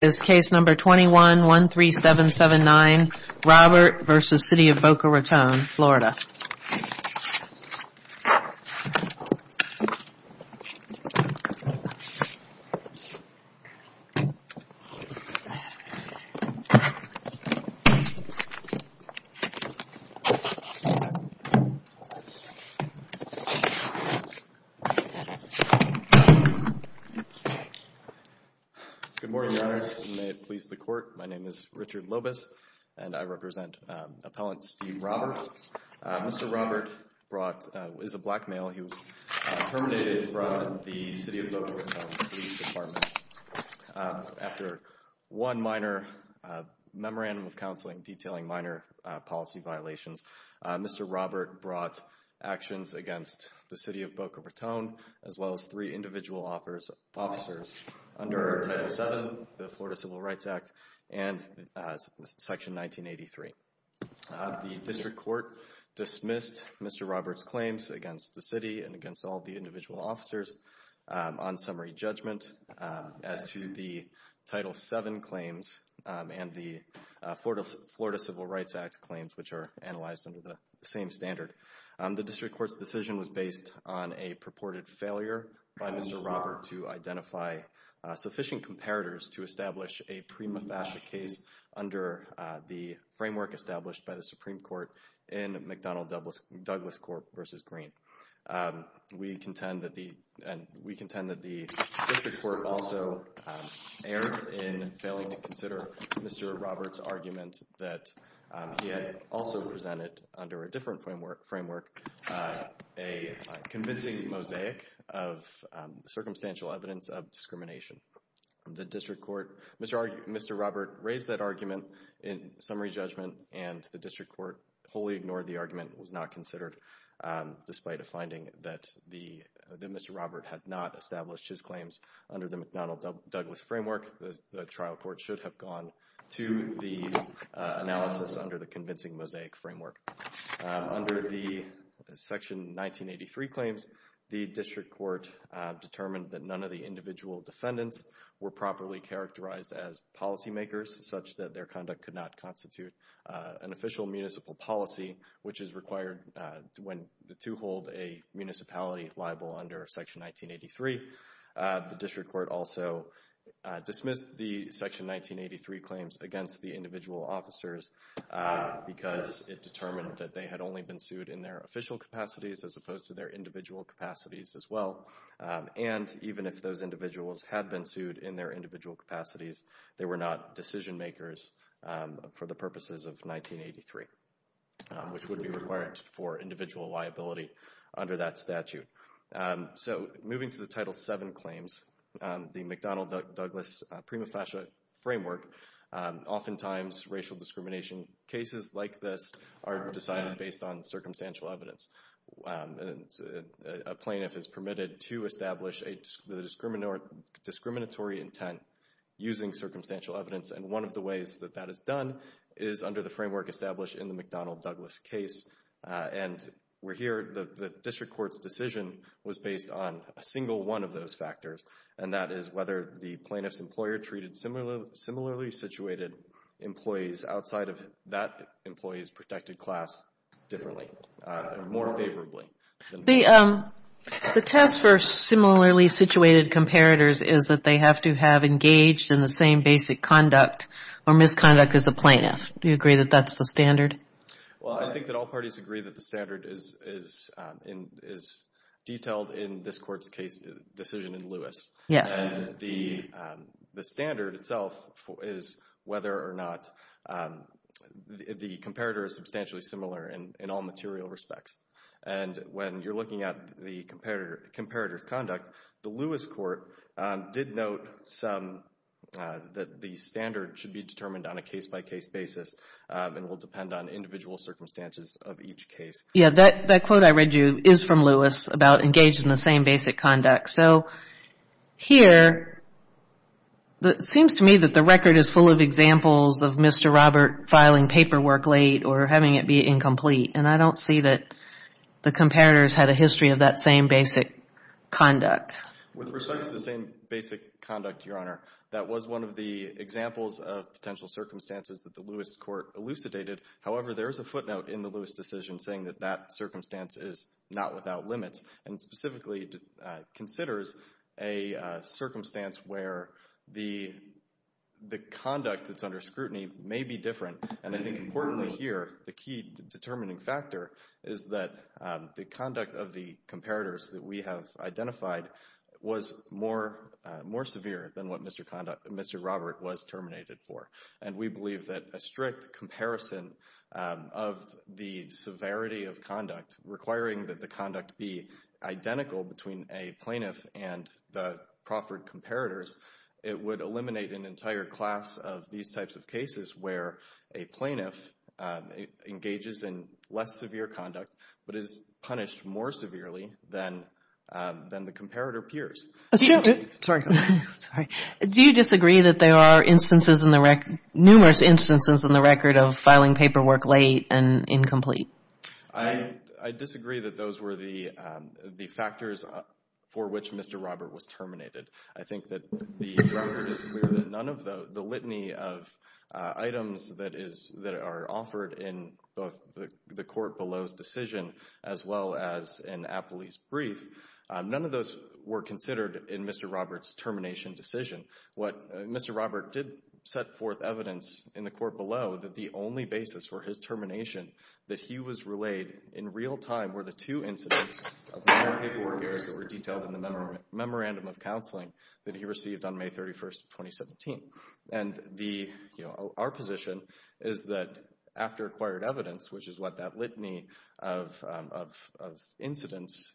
This case number 21-13779, Robert v. City of Boca Raton, Florida Good morning, Your Honors, and may it please the Court, my name is Richard Lobis and I represent Appellant Steve Robert. Mr. Robert is a black male, he was terminated from the City of Boca Raton Police Department after one minor memorandum of counseling detailing minor policy violations. Mr. Robert brought actions against the City of Boca Raton as well as three individual officers under Title VII, the Florida Civil Rights Act, and Section 1983. The District Court dismissed Mr. Robert's claims against the City and against all the individual officers on summary judgment as to the Title VII claims and the Florida Civil Rights Act claims, which are analyzed under the same standard. The District Court's decision was based on a purported failure by Mr. Robert to identify sufficient comparators to establish a prima facie case under the framework established by the Supreme Court in McDonnell-Douglas Court v. Green. We contend that the District Court also erred in failing to consider Mr. Robert's argument that he had also presented under a different framework a convincing mosaic of circumstantial evidence of discrimination. Mr. Robert raised that argument in summary judgment and the District Court wholly ignored the argument. It was not considered despite a finding that Mr. Robert had not established his claims under the McDonnell-Douglas framework. The trial court should have gone to the analysis under the convincing mosaic framework. Under the Section 1983 claims, the District Court determined that none of the individual defendants were properly characterized as policy makers such that their conduct could not constitute an official municipal policy, which is required when the two hold a municipality liable under Section 1983. The District Court also dismissed the Section 1983 claims against the individual officers because it determined that they had only been sued in their official capacities as opposed to their individual capacities as well. And even if those individuals had been sued in their individual capacities, they were not decision makers for the purposes of 1983, which would be required for individual liability under that statute. So moving to the Title VII claims, the McDonnell-Douglas prima facie framework oftentimes racial discrimination cases, like this, are decided based on circumstantial evidence. A plaintiff is permitted to establish a discriminatory intent using circumstantial evidence and one of the ways that that is done is under the framework established in the McDonnell-Douglas case. And we're here, the District Court's decision was based on a single one of those factors, and that is whether the plaintiff's employer treated similarly situated employees outside of that employee's protected class differently or more favorably. The test for similarly situated comparators is that they have to have engaged in the same basic conduct or misconduct as a plaintiff. Do you agree that that's the standard? Well, I think that all parties agree that the standard is detailed in this Court's decision in Lewis. Yes. And the standard itself is whether or not the comparator is substantially similar in all material respects. And when you're looking at the comparator's conduct, the Lewis Court did note that the standard should be determined on a case-by-case basis and will depend on individual circumstances of each case. Yeah, that quote I read you is from Lewis about engaged in the same basic conduct. So here, it seems to me that the record is full of examples of Mr. Robert filing paperwork late or having it be incomplete, and I don't see that the comparators had a history of that same basic conduct. With respect to the same basic conduct, Your Honor, that was one of the examples of potential circumstances that the Lewis Court elucidated. However, there is a footnote in the Lewis decision saying that that circumstance is not without limits and specifically considers a circumstance where the conduct that's under scrutiny may be different. And I think importantly here, the key determining factor is that the conduct of the comparators that we have identified was more severe than what Mr. Robert was terminated for. And we believe that a strict comparison of the severity of conduct requiring that the conduct be identical between a plaintiff and the proffered comparators, it would eliminate an entire class of these types of cases where a plaintiff engages in less severe conduct but is punished more severely than the comparator peers. Do you disagree that there are instances in the record, numerous instances in the record of filing paperwork late and incomplete? I disagree that those were the factors for which Mr. Robert was terminated. I think that the record is clear that none of the litany of items that are offered in both the court below's decision as well as in Appley's brief, none of those were considered in Mr. Robert's termination decision. What Mr. Robert did set forth evidence in the court below that the only basis for his termination that he was relayed in real time were the two incidents of non-paperwork years that were detailed in the Memorandum of Counseling that he received on May 31st, 2017. Our position is that after acquired evidence, which is what that litany of incidents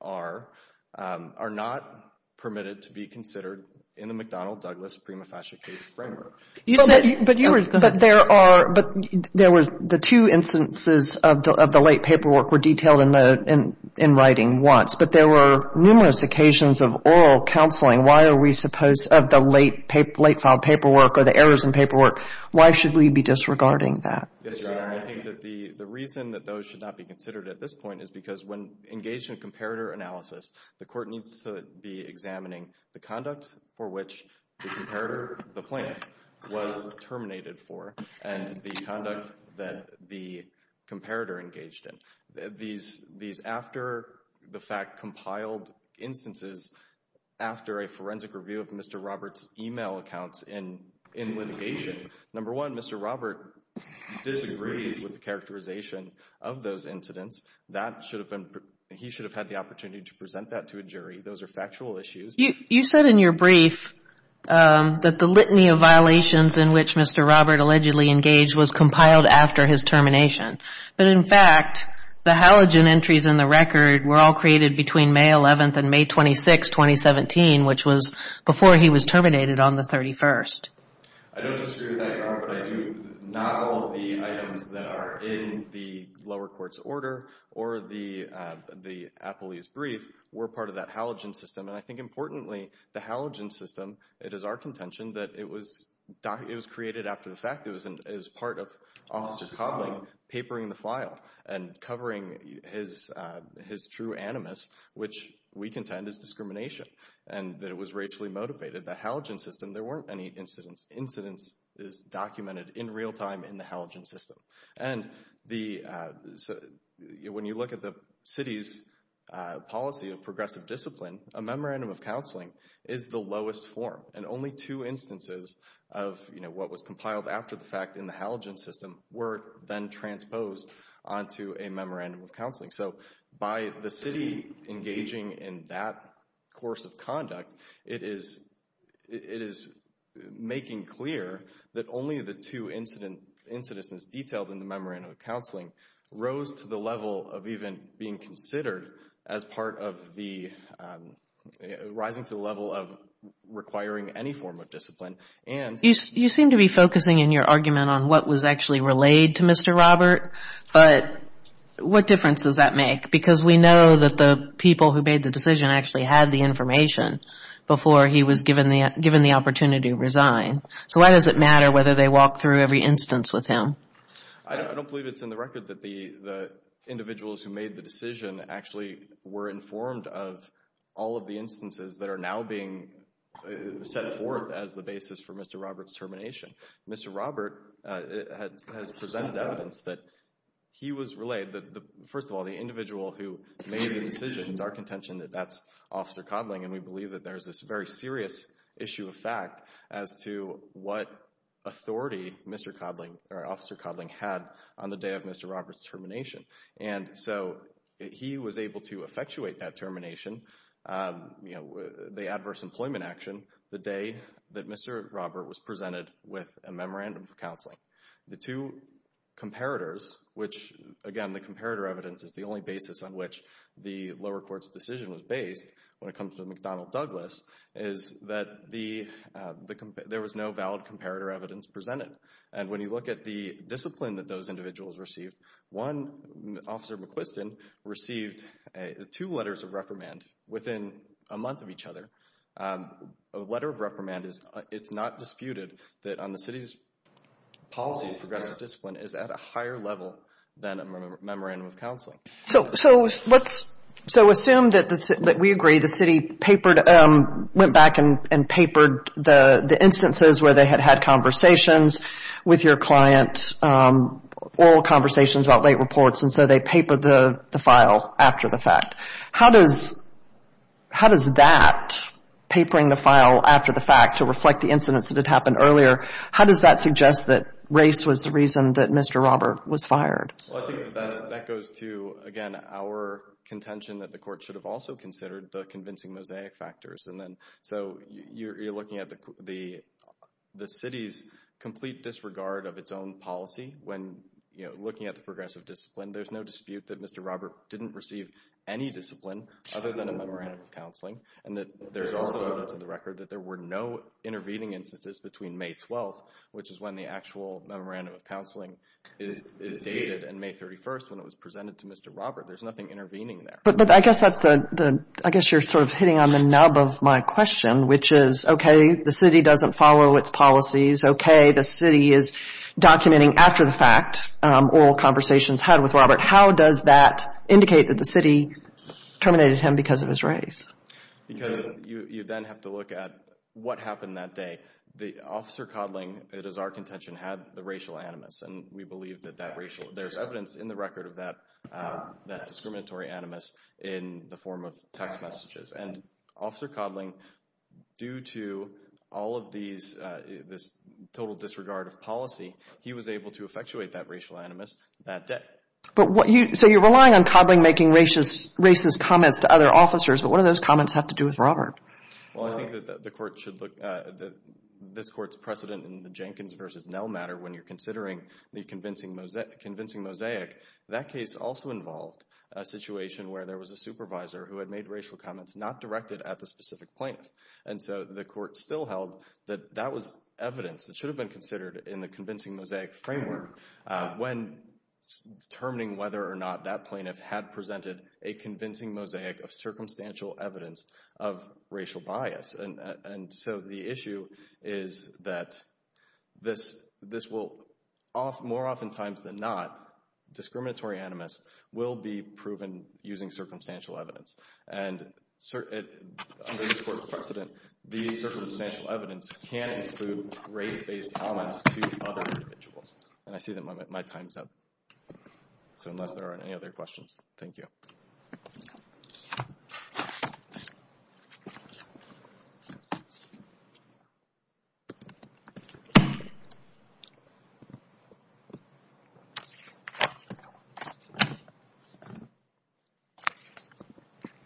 are, are not permitted to be considered in the McDonnell-Douglas prima facie case framework. The two instances of the late paperwork were detailed in writing once, but there were numerous occasions of oral counseling. Why are we supposed, of the late filed paperwork or the errors in paperwork, why should we be disregarding that? Yes, Your Honor, I think that the reason that those should not be considered at this point is because when engaged in a comparator analysis, the court needs to be examining the conduct for which the comparator, the plaintiff, was terminated for and the conduct that the comparator engaged in. These after-the-fact compiled instances after a forensic review of Mr. Robert's email accounts in litigation, number one, Mr. Robert disagrees with the characterization of those incidents. He should have had the opportunity to present that to a jury. Those are factual issues. You said in your brief that the litany of violations in which Mr. Robert allegedly engaged was compiled after his termination, but in fact, the halogen entries in the record were all created between May 11th and May 26th, 2017, which was before he was terminated on the 31st. I don't disagree with that, Your Honor, but I do not hold the items that are in the lower court's order or the appellee's brief were part of that halogen system. I think importantly, the halogen system, it is our contention that it was created after the fact. It was part of Officer Cobbling papering the file and covering his true animus, which we contend is discrimination, and that it was racially motivated. The halogen system, there weren't any incidents. Incidents is documented in real time in the halogen system. When you look at the city's policy of progressive discipline, a memorandum of counseling is the lowest form, and only two instances of what was compiled after the fact in the halogen system were then transposed onto a memorandum of counseling. So by the city engaging in that course of conduct, it is making clear that only the two incidents detailed in the memorandum of counseling rose to the level of even being considered as part of the rising to the level of requiring any form of discipline. You seem to be focusing in your argument on what was actually relayed to Mr. Robert, but what difference does that make? Because we know that the people who made the decision actually had the information before he was given the opportunity to resign. So why does it matter whether they walk through every instance with him? I don't believe it's in the record that the individuals who made the decision actually were informed of all of the instances that are now being set forth as the basis for Mr. Robert's termination. Mr. Robert has presented evidence that he was relayed, first of all, the individual who made the decision, it's our contention that that's Officer Codling, and we believe that there's this very serious issue of fact as to what authority Mr. Codling or Officer Codling had on the day of Mr. Robert's termination. And so he was able to effectuate that termination, you know, the adverse employment action the day that Mr. Robert was presented with a memorandum of counseling. The two comparators, which again, the comparator evidence is the only basis on which the lower justice, Donald Douglas, is that there was no valid comparator evidence presented. And when you look at the discipline that those individuals received, one, Officer McQuiston, received two letters of reprimand within a month of each other. A letter of reprimand, it's not disputed that on the city's policy of progressive discipline is at a higher level than a memorandum of counseling. So let's assume that we agree the city went back and papered the instances where they had had conversations with your client, oral conversations about late reports, and so they papered the file after the fact. How does that, papering the file after the fact to reflect the incidents that had happened earlier, how does that suggest that race was the reason that Mr. Robert was fired? Well, I think that goes to, again, our contention that the court should have also considered the convincing mosaic factors. And then so you're looking at the city's complete disregard of its own policy when, you know, looking at the progressive discipline, there's no dispute that Mr. Robert didn't receive any discipline other than a memorandum of counseling, and that there's also to the record that there were no intervening instances between May 12, which is when the actual memorandum of counseling is dated, and May 31st when it was presented to Mr. Robert, there's nothing intervening there. But I guess that's the, I guess you're sort of hitting on the nub of my question, which is, okay, the city doesn't follow its policies, okay, the city is documenting after the fact oral conversations had with Robert, how does that indicate that the city terminated him because of his race? Because you then have to look at what happened that day. The officer coddling, it is our contention, had the racial animus, and we believe that that racial, there's evidence in the record of that discriminatory animus in the form of text messages. And Officer Coddling, due to all of these, this total disregard of policy, he was able to effectuate that racial animus that day. But what you, so you're relying on Coddling making racist comments to other officers, but what do those comments have to do with Robert? Well, I think that the court should look, that this court's precedent in the Jenkins versus Nell matter when you're considering the convincing mosaic, that case also involved a situation where there was a supervisor who had made racial comments not directed at the specific plaintiff. And so the court still held that that was evidence that should have been considered in the convincing mosaic framework when determining whether or not that plaintiff had presented a convincing mosaic of circumstantial evidence of racial bias. And so the issue is that this will, more oftentimes than not, discriminatory animus will be proven using circumstantial evidence. And under this court's precedent, these circumstantial evidence can include race-based comments to other individuals. And I see that my time's up. So unless there are any other questions, thank you. Thank you.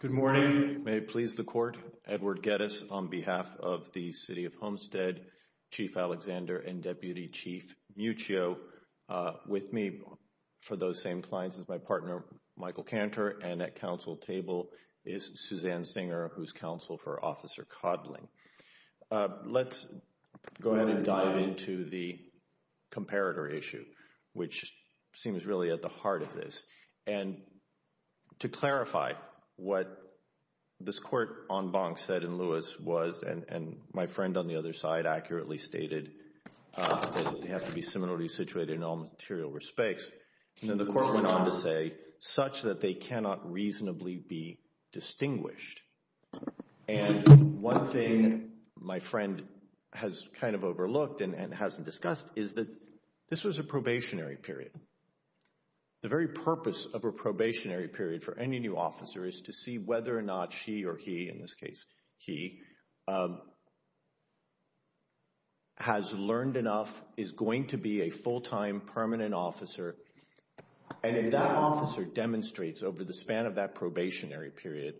Good morning. May it please the court, Edward Geddes on behalf of the City of Homestead, Chief Alexander and Deputy Chief Muccio with me for those same clients as my partner, Michael Cantor, and at council table is Suzanne Singer, who's counsel for Officer Codling. Let's go ahead and dive into the comparator issue, which seems really at the heart of this. And to clarify what this court en banc said in Lewis was, and my friend on the other side accurately stated, that they have to be similarly situated in all material respects, and then the court went on to say, such that they cannot reasonably be distinguished. And one thing my friend has kind of overlooked and hasn't discussed is that this was a probationary period. The very purpose of a probationary period for any new officer is to see whether or not she or he, in this case, he, has learned enough, is going to be a full-time permanent officer. And if that officer demonstrates over the span of that probationary period,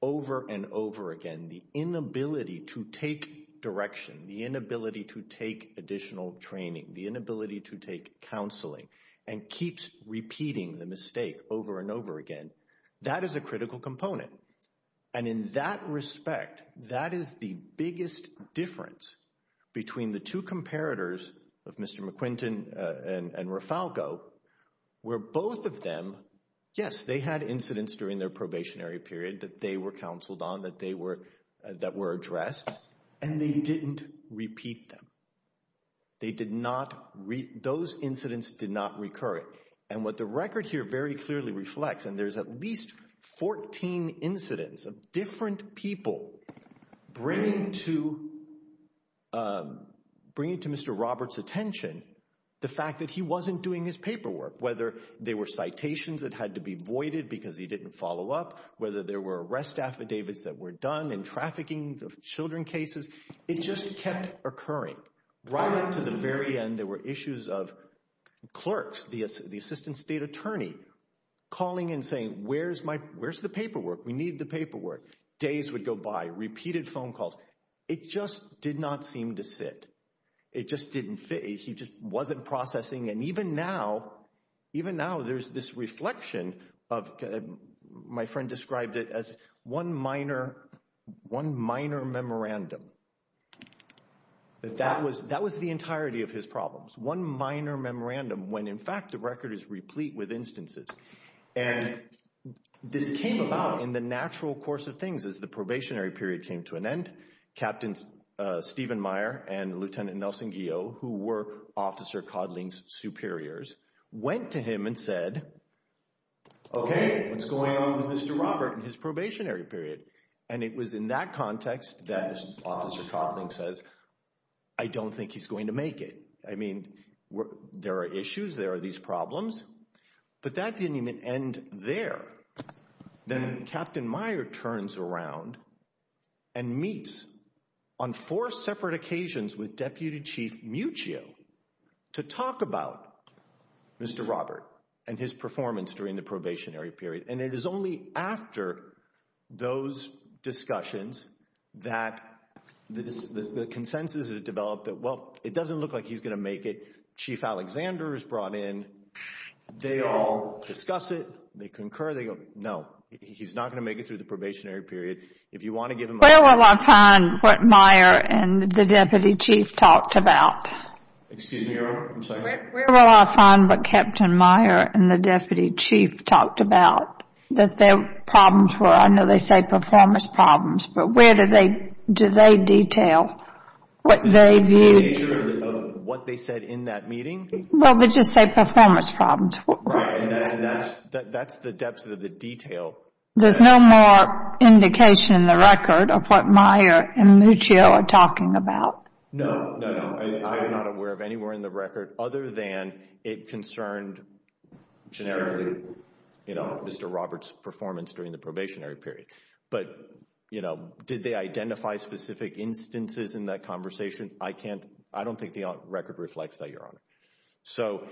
over and over again, the inability to take direction, the inability to take additional training, the inability to take counseling, and keeps repeating the mistake over and over again, that is a critical component. And in that respect, that is the biggest difference between the two comparators of Mr. McQuinton and Rafalgo, where both of them, yes, they had incidents during their probationary period that they were counseled on, that they were, that were addressed, and they didn't repeat them. They did not, those incidents did not recur. And what the record here very clearly reflects, and there's at least 14 incidents of different people bringing to Mr. Roberts' attention the fact that he wasn't doing his paperwork, whether they were citations that had to be voided because he didn't follow up, whether there were arrest affidavits that were done in trafficking of children cases, it just kept occurring. Right up to the very end, there were issues of clerks, the assistant state attorney, calling and saying, where's my, where's the paperwork? We need the paperwork. Days would go by, repeated phone calls. It just did not seem to sit. It just didn't fit. He just wasn't processing, and even now, even now there's this reflection of, my friend described it as one minor, one minor memorandum. That was, that was the entirety of his problems. One minor memorandum when in fact the record is replete with instances. And this came about in the natural course of things as the probationary period came to an end, Captain Stephen Meyer and Lieutenant Nelson Guio, who were Officer Codling's superiors, went to him and said, okay, what's going on with Mr. Robert and his probationary period? And it was in that context that Officer Codling says, I don't think he's going to make it. I mean, there are issues, there are these problems, but that didn't even end there. Then Captain Meyer turns around and meets on four separate occasions with Deputy Chief Muccio to talk about Mr. Robert and his performance during the probationary period. And it is only after those discussions that the consensus is developed that, well, it doesn't look like he's going to make it. Chief Alexander is brought in, they all discuss it, they concur, they go, no, he's not going to make it through the probationary period. Where will I find what Meyer and the Deputy Chief talked about? Excuse me, Your Honor, I'm sorry. Where will I find what Captain Meyer and the Deputy Chief talked about, that their problems were? I know they say performance problems, but where do they detail what they viewed? The nature of what they said in that meeting? Well, they just say performance problems. Right. And that's the depth of the detail. There's no more indication in the record of what Meyer and Muccio are talking about. No, no, no. I am not aware of anywhere in the record other than it concerned generically, you know, Mr. Robert's performance during the probationary period. But, you know, did they identify specific instances in that conversation? I can't, I don't think the record reflects that, Your Honor. So,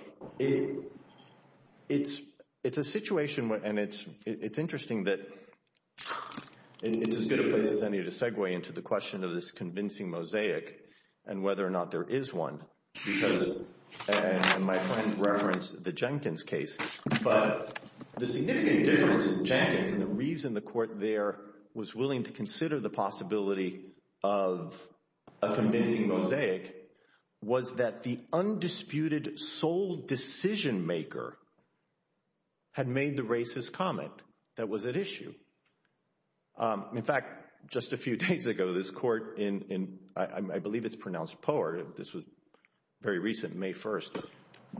it's a situation, and it's interesting that, it's as good a place as any to segue into the question of this convincing mosaic and whether or not there is one, because, and my friend referenced the Jenkins case, but the significant difference in Jenkins and the reason the court there was willing to consider the possibility of a convincing disputed sole decision maker had made the racist comment that was at issue. In fact, just a few days ago, this court in, I believe it's pronounced Poeire, this was very recent, May 1st,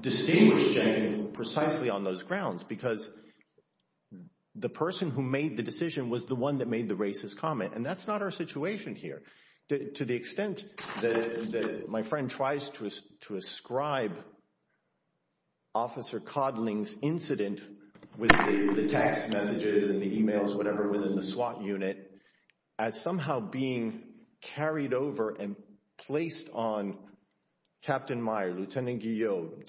distinguished Jenkins precisely on those grounds because the person who made the decision was the one that made the racist comment. And that's not our situation here. To the extent that my friend tries to ascribe Officer Codling's incident with the text messages and the emails, whatever, within the SWAT unit as somehow being carried over and placed on Captain Meyer, Lieutenant Guillaume,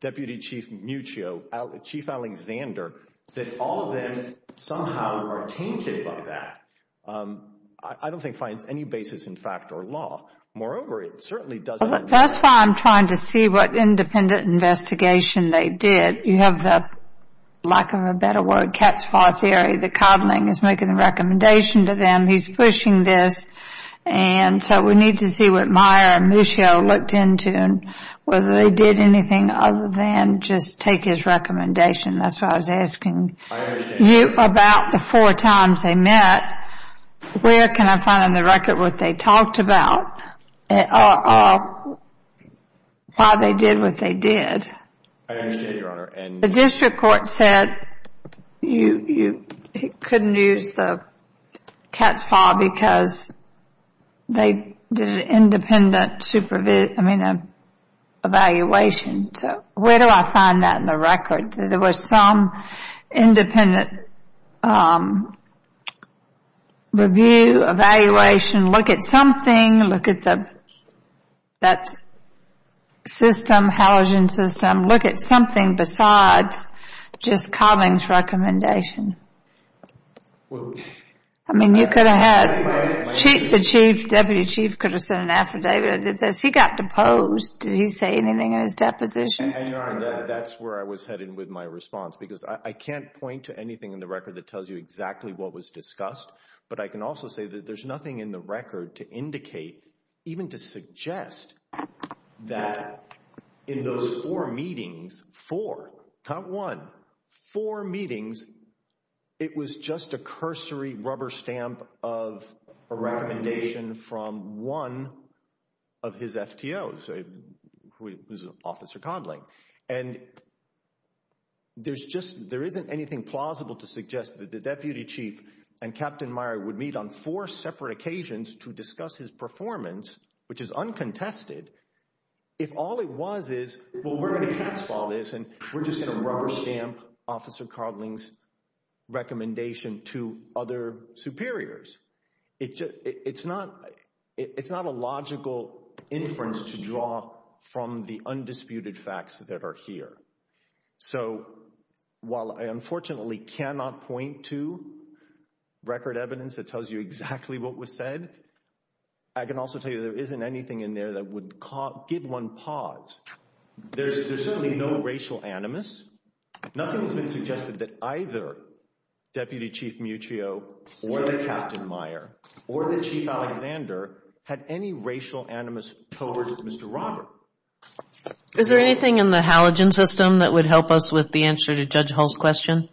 Deputy Chief Muccio, Chief Alexander, that all of them somehow are tainted by that. I don't think it finds any basis in fact or law. Moreover, it certainly doesn't. That's why I'm trying to see what independent investigation they did. You have the, lack of a better word, cat's paw theory that Codling is making the recommendation to them, he's pushing this, and so we need to see what Meyer and Muccio looked into and whether they did anything other than just take his recommendation. That's why I was asking you about the four times they met. Where can I find on the record what they talked about or why they did what they did? The district court said you couldn't use the cat's paw because they did an independent evaluation. So where do I find that in the record, that there was some independent review, evaluation, look at something, look at that system, halogen system, look at something besides just Codling's recommendation? I mean, you could have had, the Chief, Deputy Chief, could have sent an affidavit that he got deposed. Did he say anything in his deposition? That's where I was headed with my response, because I can't point to anything in the record that tells you exactly what was discussed. But I can also say that there's nothing in the record to indicate, even to suggest, that in those four meetings, four, not one, four meetings, it was just a cursory rubber stamp of a recommendation from one of his FTOs, who's Officer Codling. And there's just, there isn't anything plausible to suggest that the Deputy Chief and Captain Meyer would meet on four separate occasions to discuss his performance, which is uncontested, if all it was is, well, we're going to cat's paw this and we're just going to rubber stamp Officer Codling's recommendation to other superiors. It's not a logical inference to draw from the undisputed facts that are here. So while I unfortunately cannot point to record evidence that tells you exactly what was said, I can also tell you there isn't anything in there that would give one pause. There's certainly no racial animus. Nothing has been suggested that either Deputy Chief Muccio or Captain Meyer or the Chief Alexander had any racial animus towards Mr. Robert. Is there anything in the halogen system that would help us with the answer to Judge Hull's question?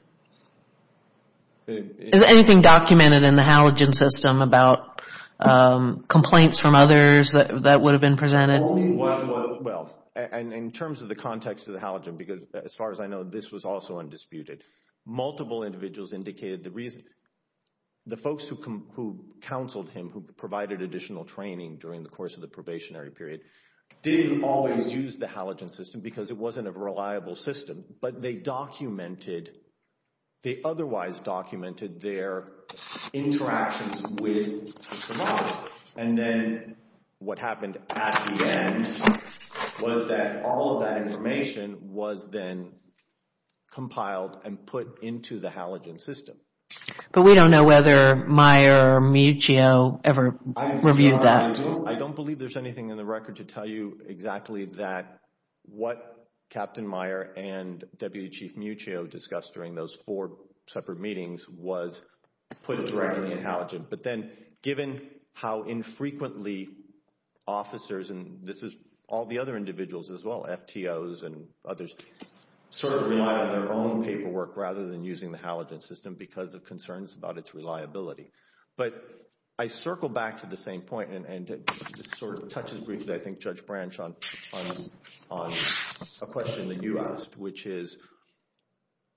Is there anything documented in the halogen system about complaints from others that would have been presented? Well, in terms of the context of the halogen, because as far as I know, this was also undisputed, multiple individuals indicated the reason. The folks who counseled him, who provided additional training during the course of the probationary period, didn't always use the halogen system because it wasn't a reliable system, but they documented, they otherwise documented their interactions with Mr. Meyer. And then what happened at the end was that all of that information was then compiled and put into the halogen system. But we don't know whether Meyer or Muccio ever reviewed that. I don't believe there's anything in the record to tell you exactly that what Captain Meyer and Deputy Chief Muccio discussed during those four separate meetings was put directly in halogen. But then, given how infrequently officers, and this is all the other individuals as well, FTOs and others, sort of relied on their own paperwork rather than using the halogen system because of concerns about its reliability. But I circle back to the same point, and this sort of touches briefly, I think, Judge Branch on a question that you asked, which is,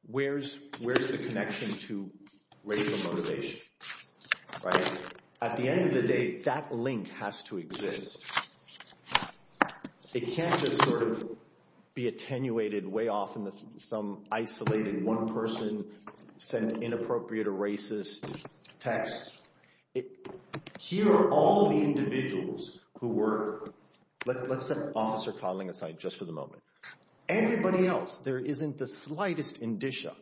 where's the connection to racial motivation, right? At the end of the day, that link has to exist. It can't just sort of be attenuated way off in some isolated one person sent inappropriate or racist text. Here are all the individuals who were, let's set Officer Codling aside just for the moment. Anybody else, there isn't the slightest indicia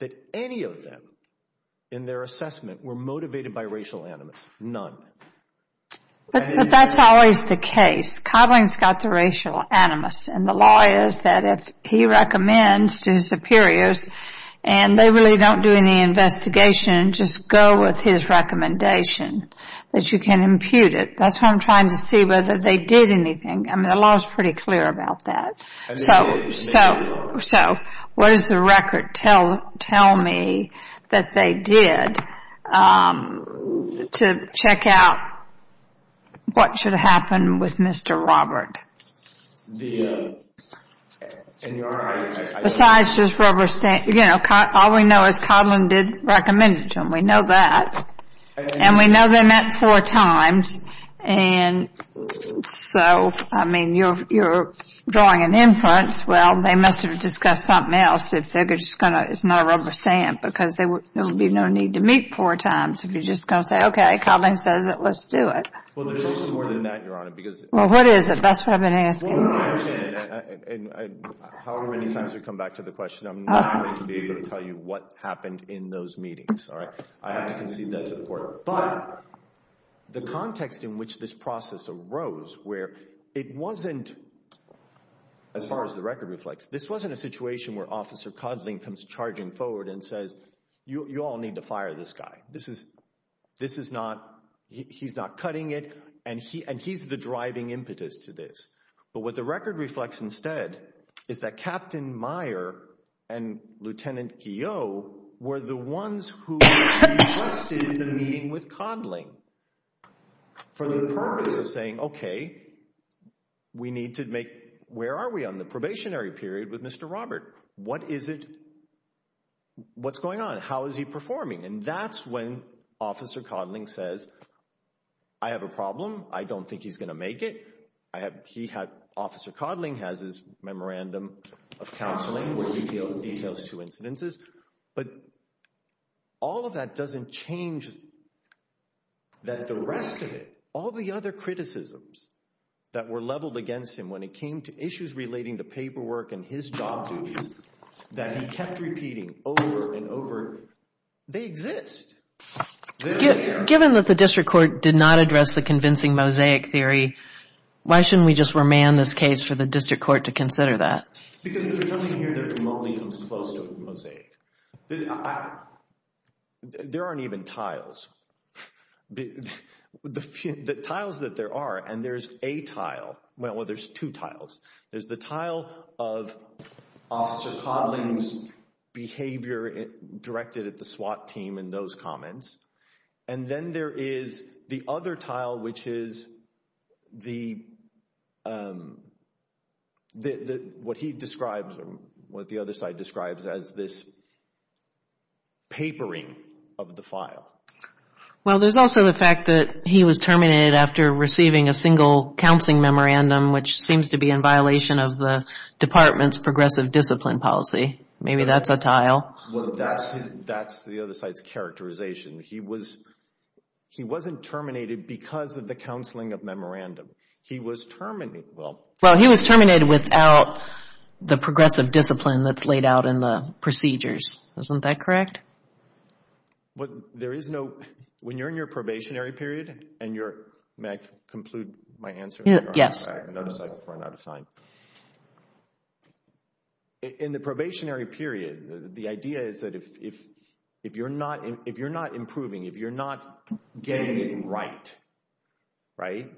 that any of them, in their assessment, were motivated by racial animus. None. But that's always the case. Codling's got the racial animus, and the law is that if he recommends to his superiors and they really don't do any investigation, just go with his recommendation that you can impute it. That's what I'm trying to see, whether they did anything. I mean, the law is pretty clear about that. So what does the record tell me that they did to check out what should happen with Mr. Robert? Besides just rubber stamp, you know, all we know is Codling did recommend it to him. We know that. And we know they met four times. And so, I mean, you're drawing an inference. Well, they must have discussed something else if they're just going to, it's not a rubber stamp because there would be no need to meet four times if you're just going to say, okay, Codling says it, let's do it. Well, there's also more than that, Your Honor. Well, what is it? That's what I've been asking. Well, I understand. However many times we come back to the question, I'm not going to be able to tell you what happened in those meetings, all right? I have to concede that to the court. But the context in which this process arose where it wasn't, as far as the record reflects, this wasn't a situation where Officer Codling comes charging forward and says, you all need to fire this guy. This is, this is not, he's not cutting it and he, and he's the driving impetus to this. But what the record reflects instead is that Captain Meyer and Lieutenant Keogh were the ones who requested the meeting with Codling for the purpose of saying, okay, we need to make, where are we on the probationary period with Mr. Robert? What is it? What's going on? How is he performing? And that's when Officer Codling says, I have a problem. I don't think he's going to make it. I have, he had, Officer Codling has his memorandum of counseling with details to incidences. But all of that doesn't change that the rest of it, all the other criticisms that were leveled against him when it came to issues relating to paperwork and his job duties that he kept repeating over and over, they exist. Given that the district court did not address the convincing mosaic theory, why shouldn't we just remand this case for the district court to consider that? Because it doesn't hear that remotely comes close to a mosaic. There aren't even tiles. The tiles that there are, and there's a tile, well, there's two tiles. There's the tile of Officer Codling's behavior directed at the SWAT team and those comments. And then there is the other tile, which is the, what he describes or what the other side describes as this papering of the file. Well, there's also the fact that he was terminated after receiving a single counseling memorandum, which seems to be in violation of the department's progressive discipline policy. Maybe that's a tile. Well, that's the other side's characterization. He wasn't terminated because of the counseling of memorandum. He was terminated. Well, he was terminated without the progressive discipline that's laid out in the procedures. Isn't that correct? There is no, when you're in your probationary period and you're, may I conclude my answer Yes. I noticed I ran out of time. In the probationary period, the idea is that if you're not improving, if you're not getting it right, right?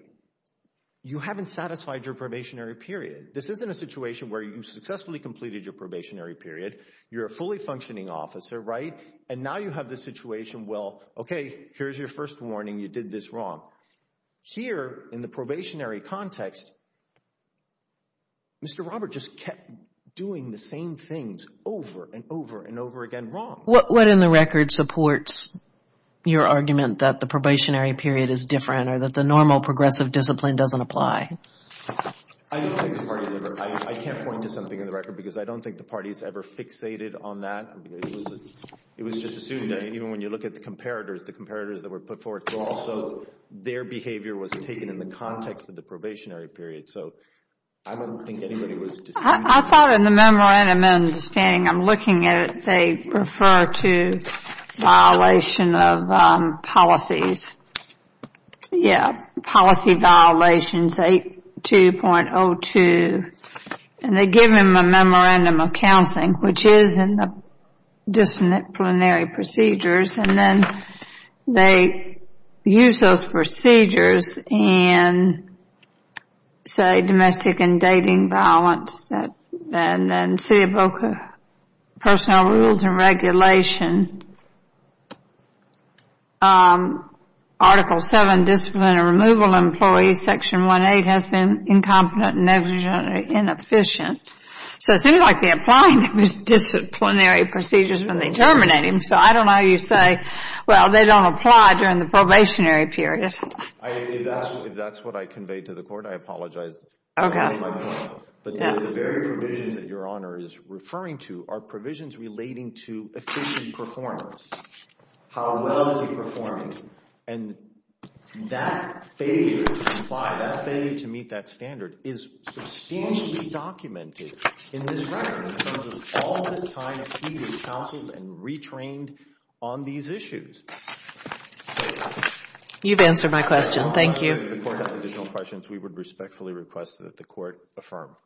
You haven't satisfied your probationary period. This isn't a situation where you successfully completed your probationary period. You're a fully functioning officer, right? And now you have this situation, well, okay, here's your first warning, you did this wrong. Here, in the probationary context, Mr. Robert just kept doing the same things over and over and over again wrong. What in the record supports your argument that the probationary period is different or that the normal progressive discipline doesn't apply? I don't think the parties ever, I can't point to something in the record because I don't think the parties ever fixated on that. It was just assumed that even when you look at the comparators, the comparators that were put forward to also their behavior was taken in the context of the probationary period. So I don't think anybody was... I thought in the memorandum, I'm understanding, I'm looking at it, they refer to violation of policies. Yeah, policy violations 82.02 and they give him a memorandum of counseling, which is in disciplinary procedures, and then they use those procedures in, say, domestic and dating violence, and then CBOCA personnel rules and regulation, Article 7, Discipline and Removal Employees, Section 1A has been incompetent, negligent, and inefficient. So it seems like they're applying disciplinary procedures when they terminate him. So I don't know how you say, well, they don't apply during the probationary period. If that's what I conveyed to the court, I apologize. Okay. That was my point. But the very provisions that Your Honor is referring to are provisions relating to efficient performance, how well is he performing, and that failure to comply, that failure to meet that standard is substantially documented in this record in terms of all the time he has counseled and retrained on these issues. You've answered my question. Thank you. If the court has additional questions, we would respectfully request that the court affirm.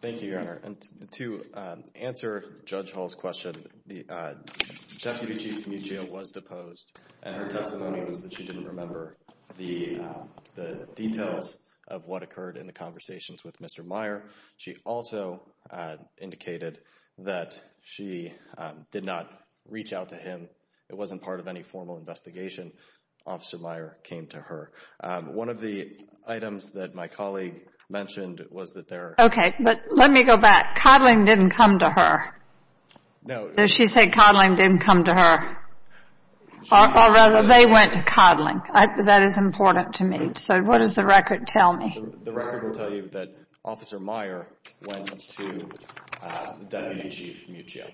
Thank you, Your Honor. Thank you, Mr. Meyer. And to answer Judge Hall's question, the Deputy Chief of the Community Jail was deposed, and her testimony was that she didn't remember the details of what occurred in the conversations with Mr. Meyer. She also indicated that she did not reach out to him. It wasn't part of any formal investigation. Officer Meyer came to her. One of the items that my colleague mentioned was that there are Okay. But let me go back. Coddling didn't come to her. No. Did she say coddling didn't come to her, or rather they went to coddling? That is important to me. So what does the record tell me? The record will tell you that Officer Meyer went to the Deputy Chief of Community Jail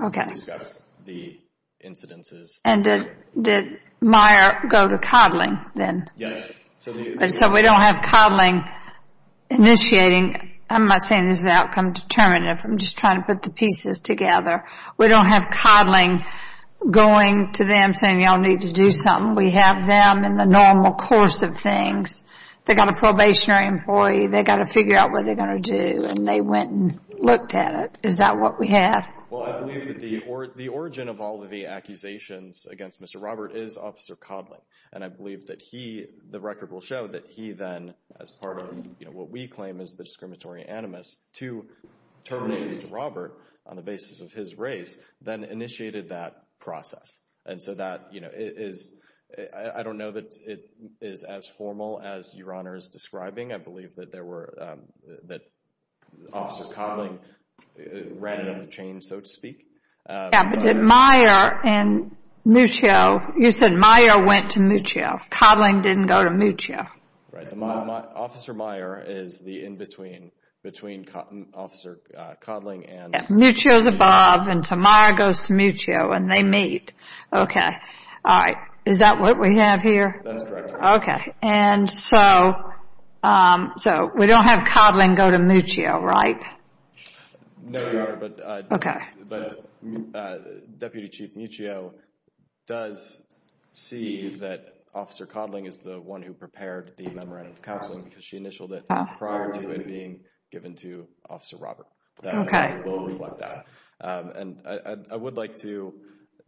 to discuss the incidences. And did Meyer go to coddling then? Yes. Okay. So we don't have coddling initiating. I'm not saying this is outcome determinative. I'm just trying to put the pieces together. We don't have coddling going to them saying, y'all need to do something. We have them in the normal course of things. They got a probationary employee. They got to figure out what they're going to do, and they went and looked at it. Is that what we have? Well, I believe that the origin of all of the accusations against Mr. Robert is Officer Coddling. And I believe that he, the record will show that he then, as part of what we claim is the discriminatory animus to terminate Mr. Robert on the basis of his race, then initiated that process. And so that is, I don't know that it is as formal as Your Honor is describing. I believe that there were, that Officer Coddling ran it on the chain, so to speak. Yeah, but did Meyer and Muccio, you said Meyer went to Muccio. Coddling didn't go to Muccio. Officer Meyer is the in-between, between Officer Coddling and Muccio. Muccio's above, and so Meyer goes to Muccio, and they meet. Okay. All right. Is that what we have here? That's correct, Your Honor. Okay. And so, we don't have Coddling go to Muccio, right? No, Your Honor. Okay. But Deputy Chief Muccio does see that Officer Coddling is the one who prepared the memorandum of counseling, because she initialed it prior to it being given to Officer Robert. Okay. That will reflect that. And I would like to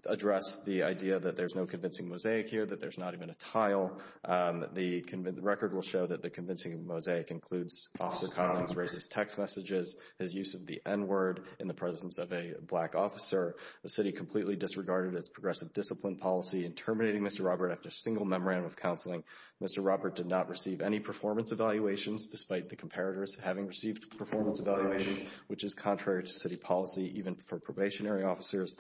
address the idea that there's no convincing mosaic here, that there's not even a tile. The record will show that the convincing mosaic includes Officer Coddling's racist text messages, his use of the N-word in the presence of a black officer. The city completely disregarded its progressive discipline policy in terminating Mr. Robert after a single memorandum of counseling. Mr. Robert did not receive any performance evaluations, despite the comparators having received performance evaluations, which is contrary to city policy, even for probationary officers.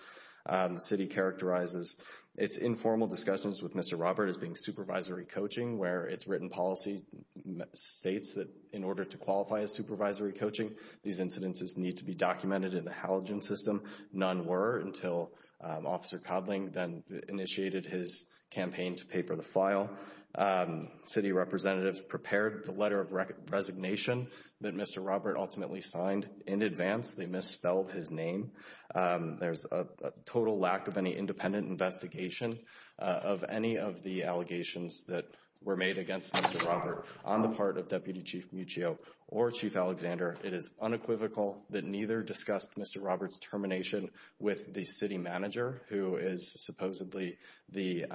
The city characterizes its informal discussions with Mr. Robert as being supervisory coaching, where its written policy states that in order to qualify as supervisory coaching, these incidences need to be documented in the halogen system. None were until Officer Coddling then initiated his campaign to pay for the file. City representatives prepared the letter of resignation that Mr. Robert ultimately signed in advance. They misspelled his name. There's a total lack of any independent investigation of any of the allegations that were made against Mr. Robert on the part of Deputy Chief Muccio or Chief Alexander. It is unequivocal that neither discussed Mr. Robert's termination with the city manager, who is supposedly the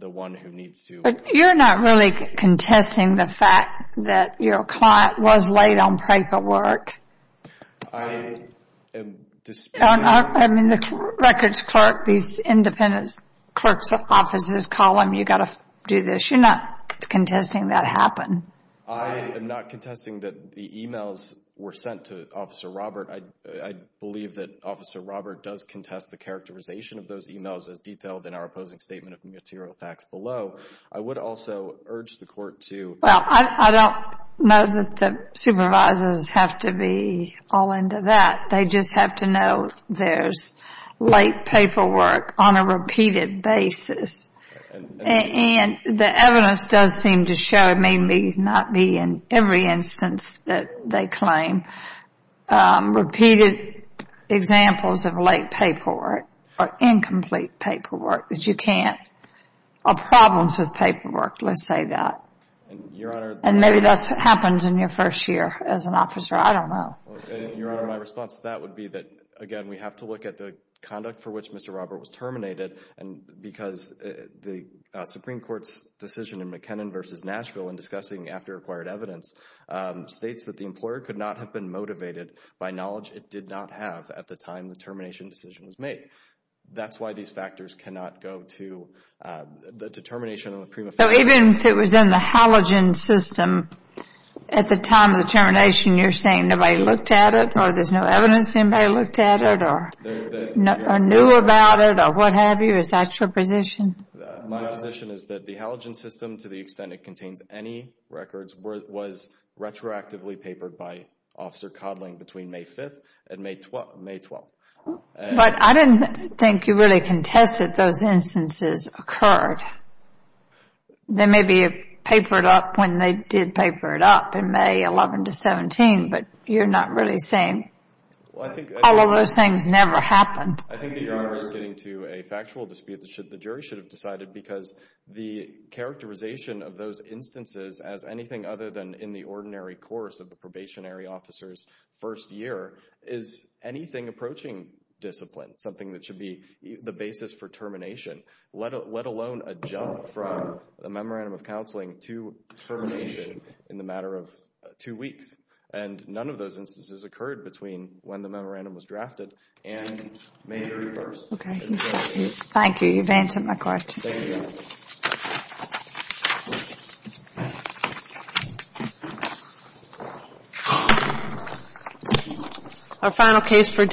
one who needs to... But you're not really contesting the fact that your client was late on paperwork? I am disputing... I mean, the records clerk, these independent clerk's offices, call them, you've got to do this. You're not contesting that happened? I am not contesting that the e-mails were sent to Officer Robert. I believe that Officer Robert does contest the characterization of those e-mails as detailed in our opposing statement of material facts below. I would also urge the court to... Well, I don't know that the supervisors have to be all into that. They just have to know there's late paperwork on a repeated basis. And the evidence does seem to show, it may not be in every instance that they claim, repeated examples of late paperwork or incomplete paperwork. You can't... Or problems with paperwork, let's say that. And maybe that's what happens in your first year as an officer, I don't know. Your Honor, my response to that would be that, again, we have to look at the conduct for which Mr. Robert was terminated, because the Supreme Court's decision in McKinnon v. Nashville in discussing after acquired evidence states that the employer could not have been motivated by knowledge it did not have at the time the termination decision was made. That's why these factors cannot go to the determination of the prima facie... So even if it was in the halogen system at the time of the termination, you're saying nobody looked at it or there's no evidence anybody looked at it or knew about it or what have you? Is that your position? My position is that the halogen system, to the extent it contains any records, was retroactively papered by Officer Codling between May 5th and May 12th. But I didn't think you really contested those instances occurred. They may be papered up when they did paper it up in May 11 to 17, but you're not really saying all of those things never happened. I think that Your Honor is getting to a factual dispute that the jury should have decided because the characterization of those instances as anything other than in the ordinary course of the probationary officer's first year is anything approaching discipline, something that should be the basis for termination, let alone a jump from the memorandum of counseling to termination in the matter of two weeks. And none of those instances occurred between when the memorandum was drafted and May 31st. Thank you. Thank you, Your Honor.